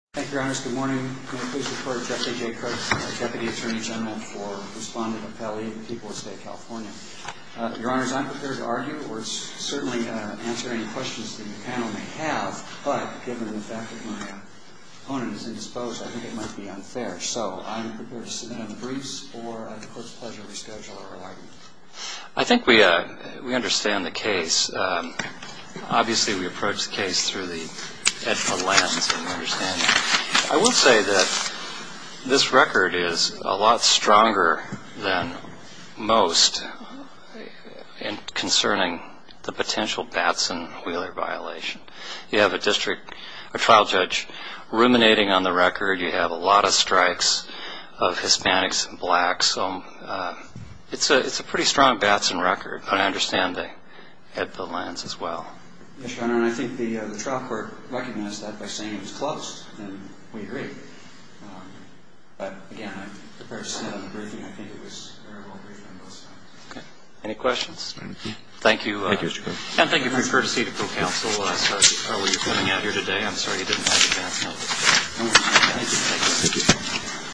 Thank you, Your Honors. Good morning. I'm going to please report to Deputy Attorney General Jesse J. Crespin for respondent appellee of the people of State of California. Your Honors, I'm prepared to argue or certainly answer any questions that the panel may have, but given the fact that my opponent is indisposed, I think it might be unfair. So I'm prepared to submit a briefs or at the Court's pleasure reschedule our argument. I think we understand the case. Obviously, we approach the case through the EDPA lens and we understand that. I will say that this record is a lot stronger than most concerning the potential Batson-Wheeler violation. You have a district trial judge ruminating on the record. You have a lot of strikes of Hispanics and blacks. It's a pretty strong Batson record, but I understand the EDPA lens as well. Yes, Your Honor, and I think the trial court recognized that by saying it was closed, and we agree. But again, I'm prepared to submit a briefing. I think it was a very well-briefed on both sides. Okay. Any questions? Thank you. Thank you, Mr. Crespin. And thank you for your courtesy to ProCounsel. We're coming out here today. I'm sorry you didn't have advance notice. No worries. Thank you.